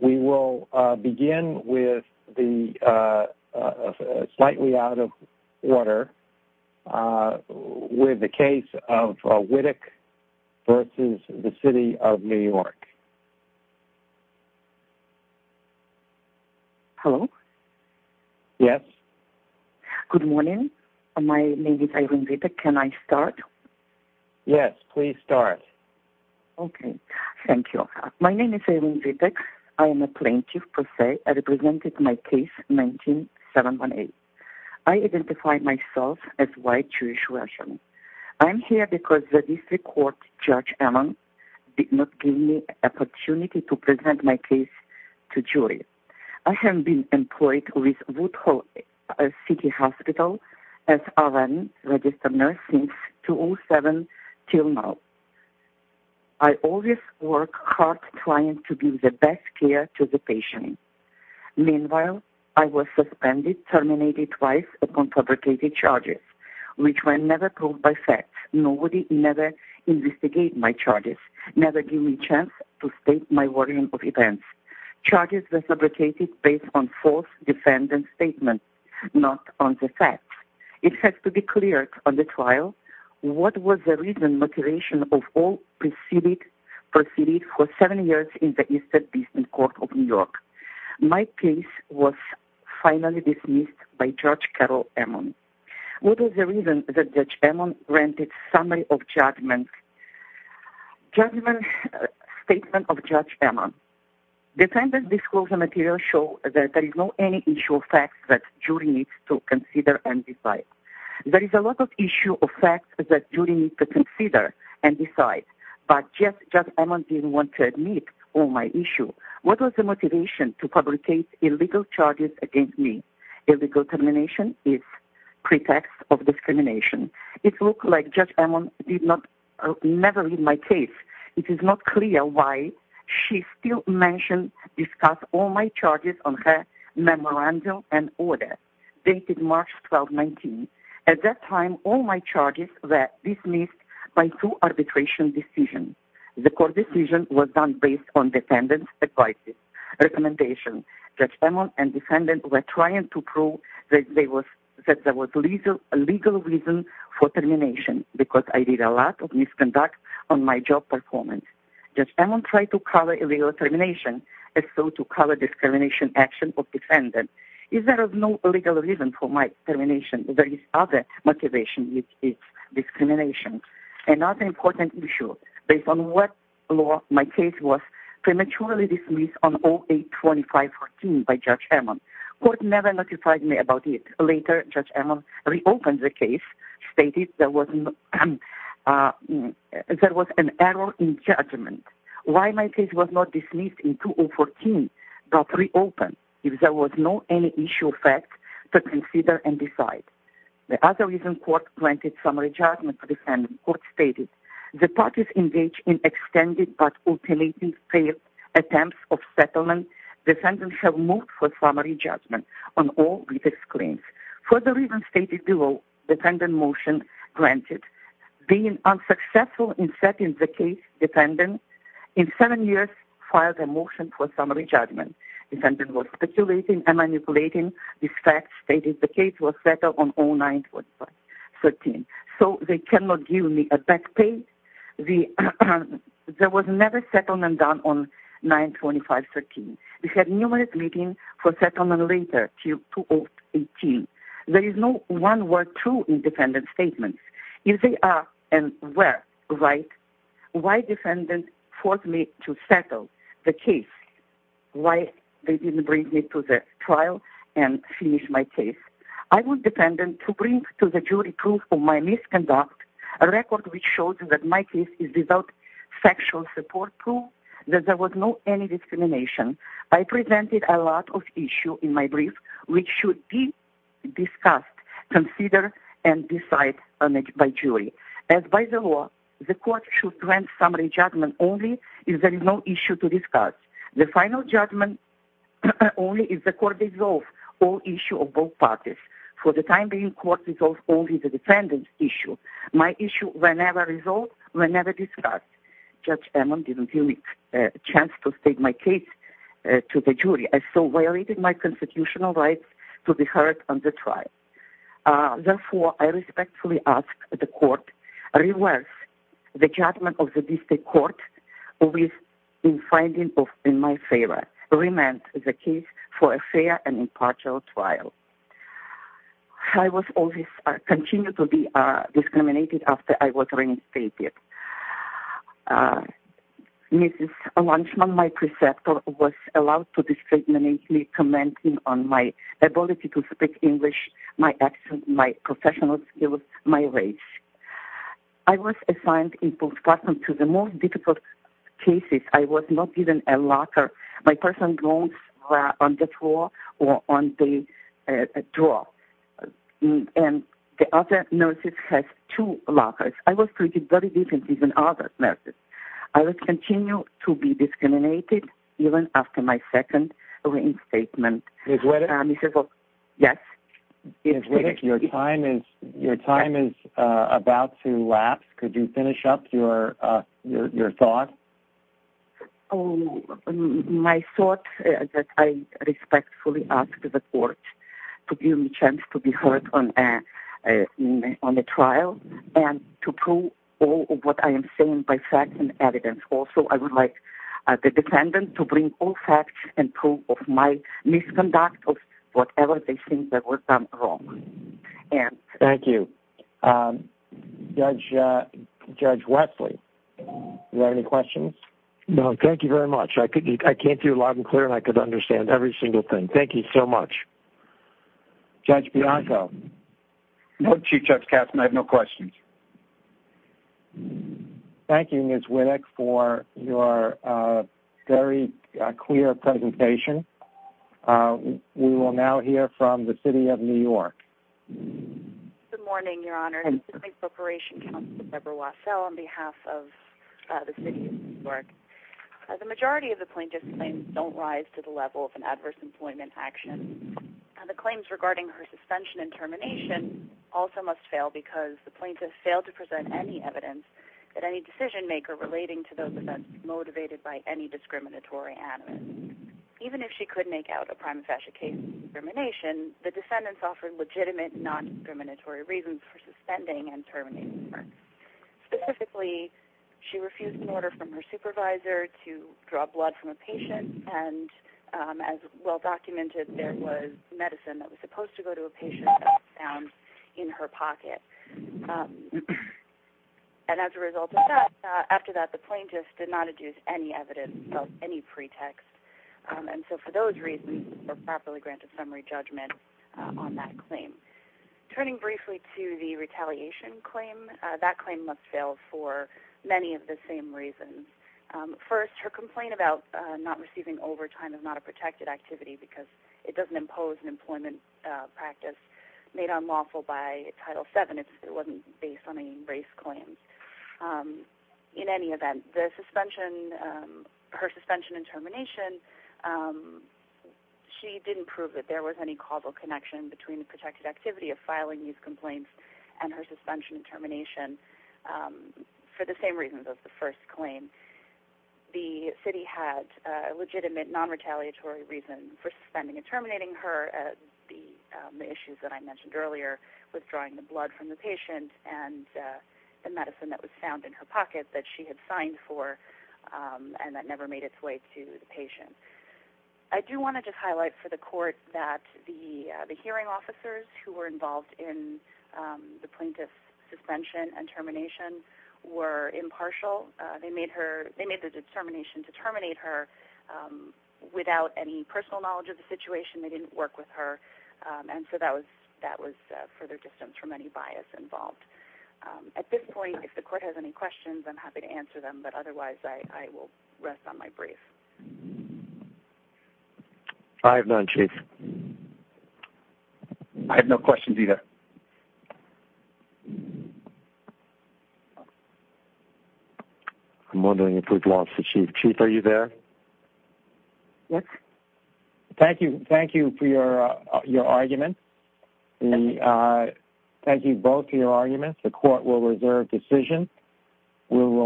We will begin with the case of Witek v. City of New York. Hello? Yes. Good morning. My name is Eileen Witek. Can I start? Yes, please start. Okay. Thank you. My name is Eileen Witek. I am a plaintiff per se. I represented my case in 1978. I identified myself as a white Jewish Russian. I am here because the District Court Judge Allen did not give me an opportunity to present my case to a jury. I have been employed with Woodhull City Hospital as a registered nurse since 2007 until now. I always work hard trying to give the best care to the patient. Meanwhile, I was suspended, terminated twice upon fabricated charges, which were never proved by fact. Nobody ever investigated my charges, never gave me a chance to state my warning of events. Charges were fabricated based on false defendant statements, not on the facts. It has to be cleared on the trial what was the reason motivation of all proceedings for seven years in the Eastern District Court of New York. My case was finally dismissed by Judge Carol Ammon. What was the reason that Judge Ammon granted summary of judgment statement of Judge Ammon? Defendant disclosure materials show that there is not any issue of facts that jury needs to consider and decide. There is a lot of issue of facts that jury needs to consider and decide, but Judge Ammon didn't want to admit all my issues. What was the motivation to fabricate illegal charges against me? Illegal termination is pretext of discrimination. It looked like Judge Ammon did not never read my case. It is not clear why she still mentioned, discussed all my charges on her memorandum and order dated March 12, 19. At that time, all my charges were dismissed by two arbitration decisions. The court decision was done based on defendant's advice, recommendation. Judge Ammon and defendant were trying to prove that there was legal reason for termination because I did a lot of misconduct on my job performance. Judge Ammon tried to cover illegal termination and so to cover discrimination action of defendant. If there is no legal reason for my termination, there is other motivation which is discrimination. Another important issue, based on what law my case was prematurely dismissed on 08-25-14 by Judge Ammon. Court never notified me about it. Later, Judge Ammon reopened the case, stated there was an error in judgment. Why my case was not dismissed in 2014 but reopened if there was no any issue of facts to consider and decide? The other reason court granted summary judgment to defendant. Court stated, the parties engaged in extended but ultimately failed attempts of settlement. Defendants have moved for summary judgment on all written claims. Further reason stated below, defendant motion granted. Being unsuccessful in setting the case, defendant in seven years filed a motion for summary judgment. Defendant was speculating and manipulating. This fact stated the case was settled on 09-25-13. So they cannot give me a back pay. There was never settlement done on 09-25-13. We had numerous meetings for settlement later, till 2018. There is no one word true in defendant statements. If they are and were right, why defendant forced me to settle the case? Why they didn't bring me to the trial and finish my case? I want defendant to bring to the jury proof of my misconduct, a record which shows that my case is without sexual support proof, that there was no any discrimination. I presented a lot of issues in my brief, which should be discussed, considered and decided by jury. As by the law, the court should grant summary judgment only if there is no issue to discuss. The final judgment only if the court resolves all issues of both parties. For the time being, court resolves only the defendant's issue. My issue, whenever resolved, whenever discussed. Judge Ammon didn't give me a chance to state my case to the jury. I so violated my constitutional rights to be heard on the trial. Therefore, I respectfully ask the court reverse the judgment of the district court in finding in my favor. Remand the case for a fair and impartial trial. I was always continue to be discriminated after I was reinstated. Mrs. Lansman, my preceptor, was allowed to discriminate me commenting on my ability to speak English, my accent, my professional skills, my race. I was assigned in postpartum to the most difficult cases. I was not given a locker. My personal belongings were on the floor or on the drawer. And the other nurses had two lockers. I was treated very differently than other nurses. I was continue to be discriminated even after my second reinstatement. Ms. Whitaker? Yes. Ms. Whitaker, your time is about to lapse. Could you finish up your thought? My thought is that I respectfully ask the court to give me a chance to be heard on the trial and to prove all of what I am saying by facts and evidence. Also, I would like the defendant to bring all facts and proof of my misconduct of whatever they think that was done wrong. Thank you. Judge Wesley, do you have any questions? No. Thank you very much. I came through loud and clear, and I could understand every single thing. Thank you so much. Judge Bianco? No, Chief Judge Katzmann. I have no questions. Thank you, Ms. Whitaker, for your very clear presentation. We will now hear from the City of New York. Good morning, Your Honor. This is the Claims Preparation Counsel, Deborah Wassell, on behalf of the City of New York. The majority of the plaintiff's claims don't rise to the level of an adverse employment action. The claims regarding her suspension and termination also must fail because the plaintiff failed to present any evidence that any decision-maker relating to those events was motivated by any discriminatory animus. Even if she could make out a prima facie case of discrimination, the defendants offered legitimate non-discriminatory reasons for suspending and terminating her. Specifically, she refused an order from her supervisor to draw blood from a patient, and as well documented, there was medicine that was supposed to go to a patient that was found in her pocket. And as a result of that, after that, the plaintiff did not adduce any evidence of any pretext. And so for those reasons, they're properly granted summary judgment on that claim. Turning briefly to the retaliation claim, that claim must fail for many of the same reasons. First, her complaint about not receiving overtime is not a protected activity because it doesn't impose an employment practice made unlawful by Title VII. It wasn't based on any race claims. In any event, her suspension and termination, she didn't prove that there was any causal connection between the protected activity of filing these complaints and her suspension and termination, for the same reasons as the first claim. The city had a legitimate non-retaliatory reason for suspending and terminating her. The issues that I mentioned earlier, withdrawing the blood from the patient and the medicine that was found in her pocket that she had signed for, and that never made its way to the patient. I do want to just highlight for the court that the hearing officers who were involved in the plaintiff's suspension and termination were impartial. They made the determination to terminate her without any personal knowledge of the situation. They didn't work with her. And so that was further distanced from any bias involved. At this point, if the court has any questions, I'm happy to answer them. But otherwise, I will rest on my brief. I have none, Chief. I have no questions either. I'm wondering if we've lost the Chief. Chief, are you there? Thank you for your argument. Thank you both for your arguments. The court will reserve decision.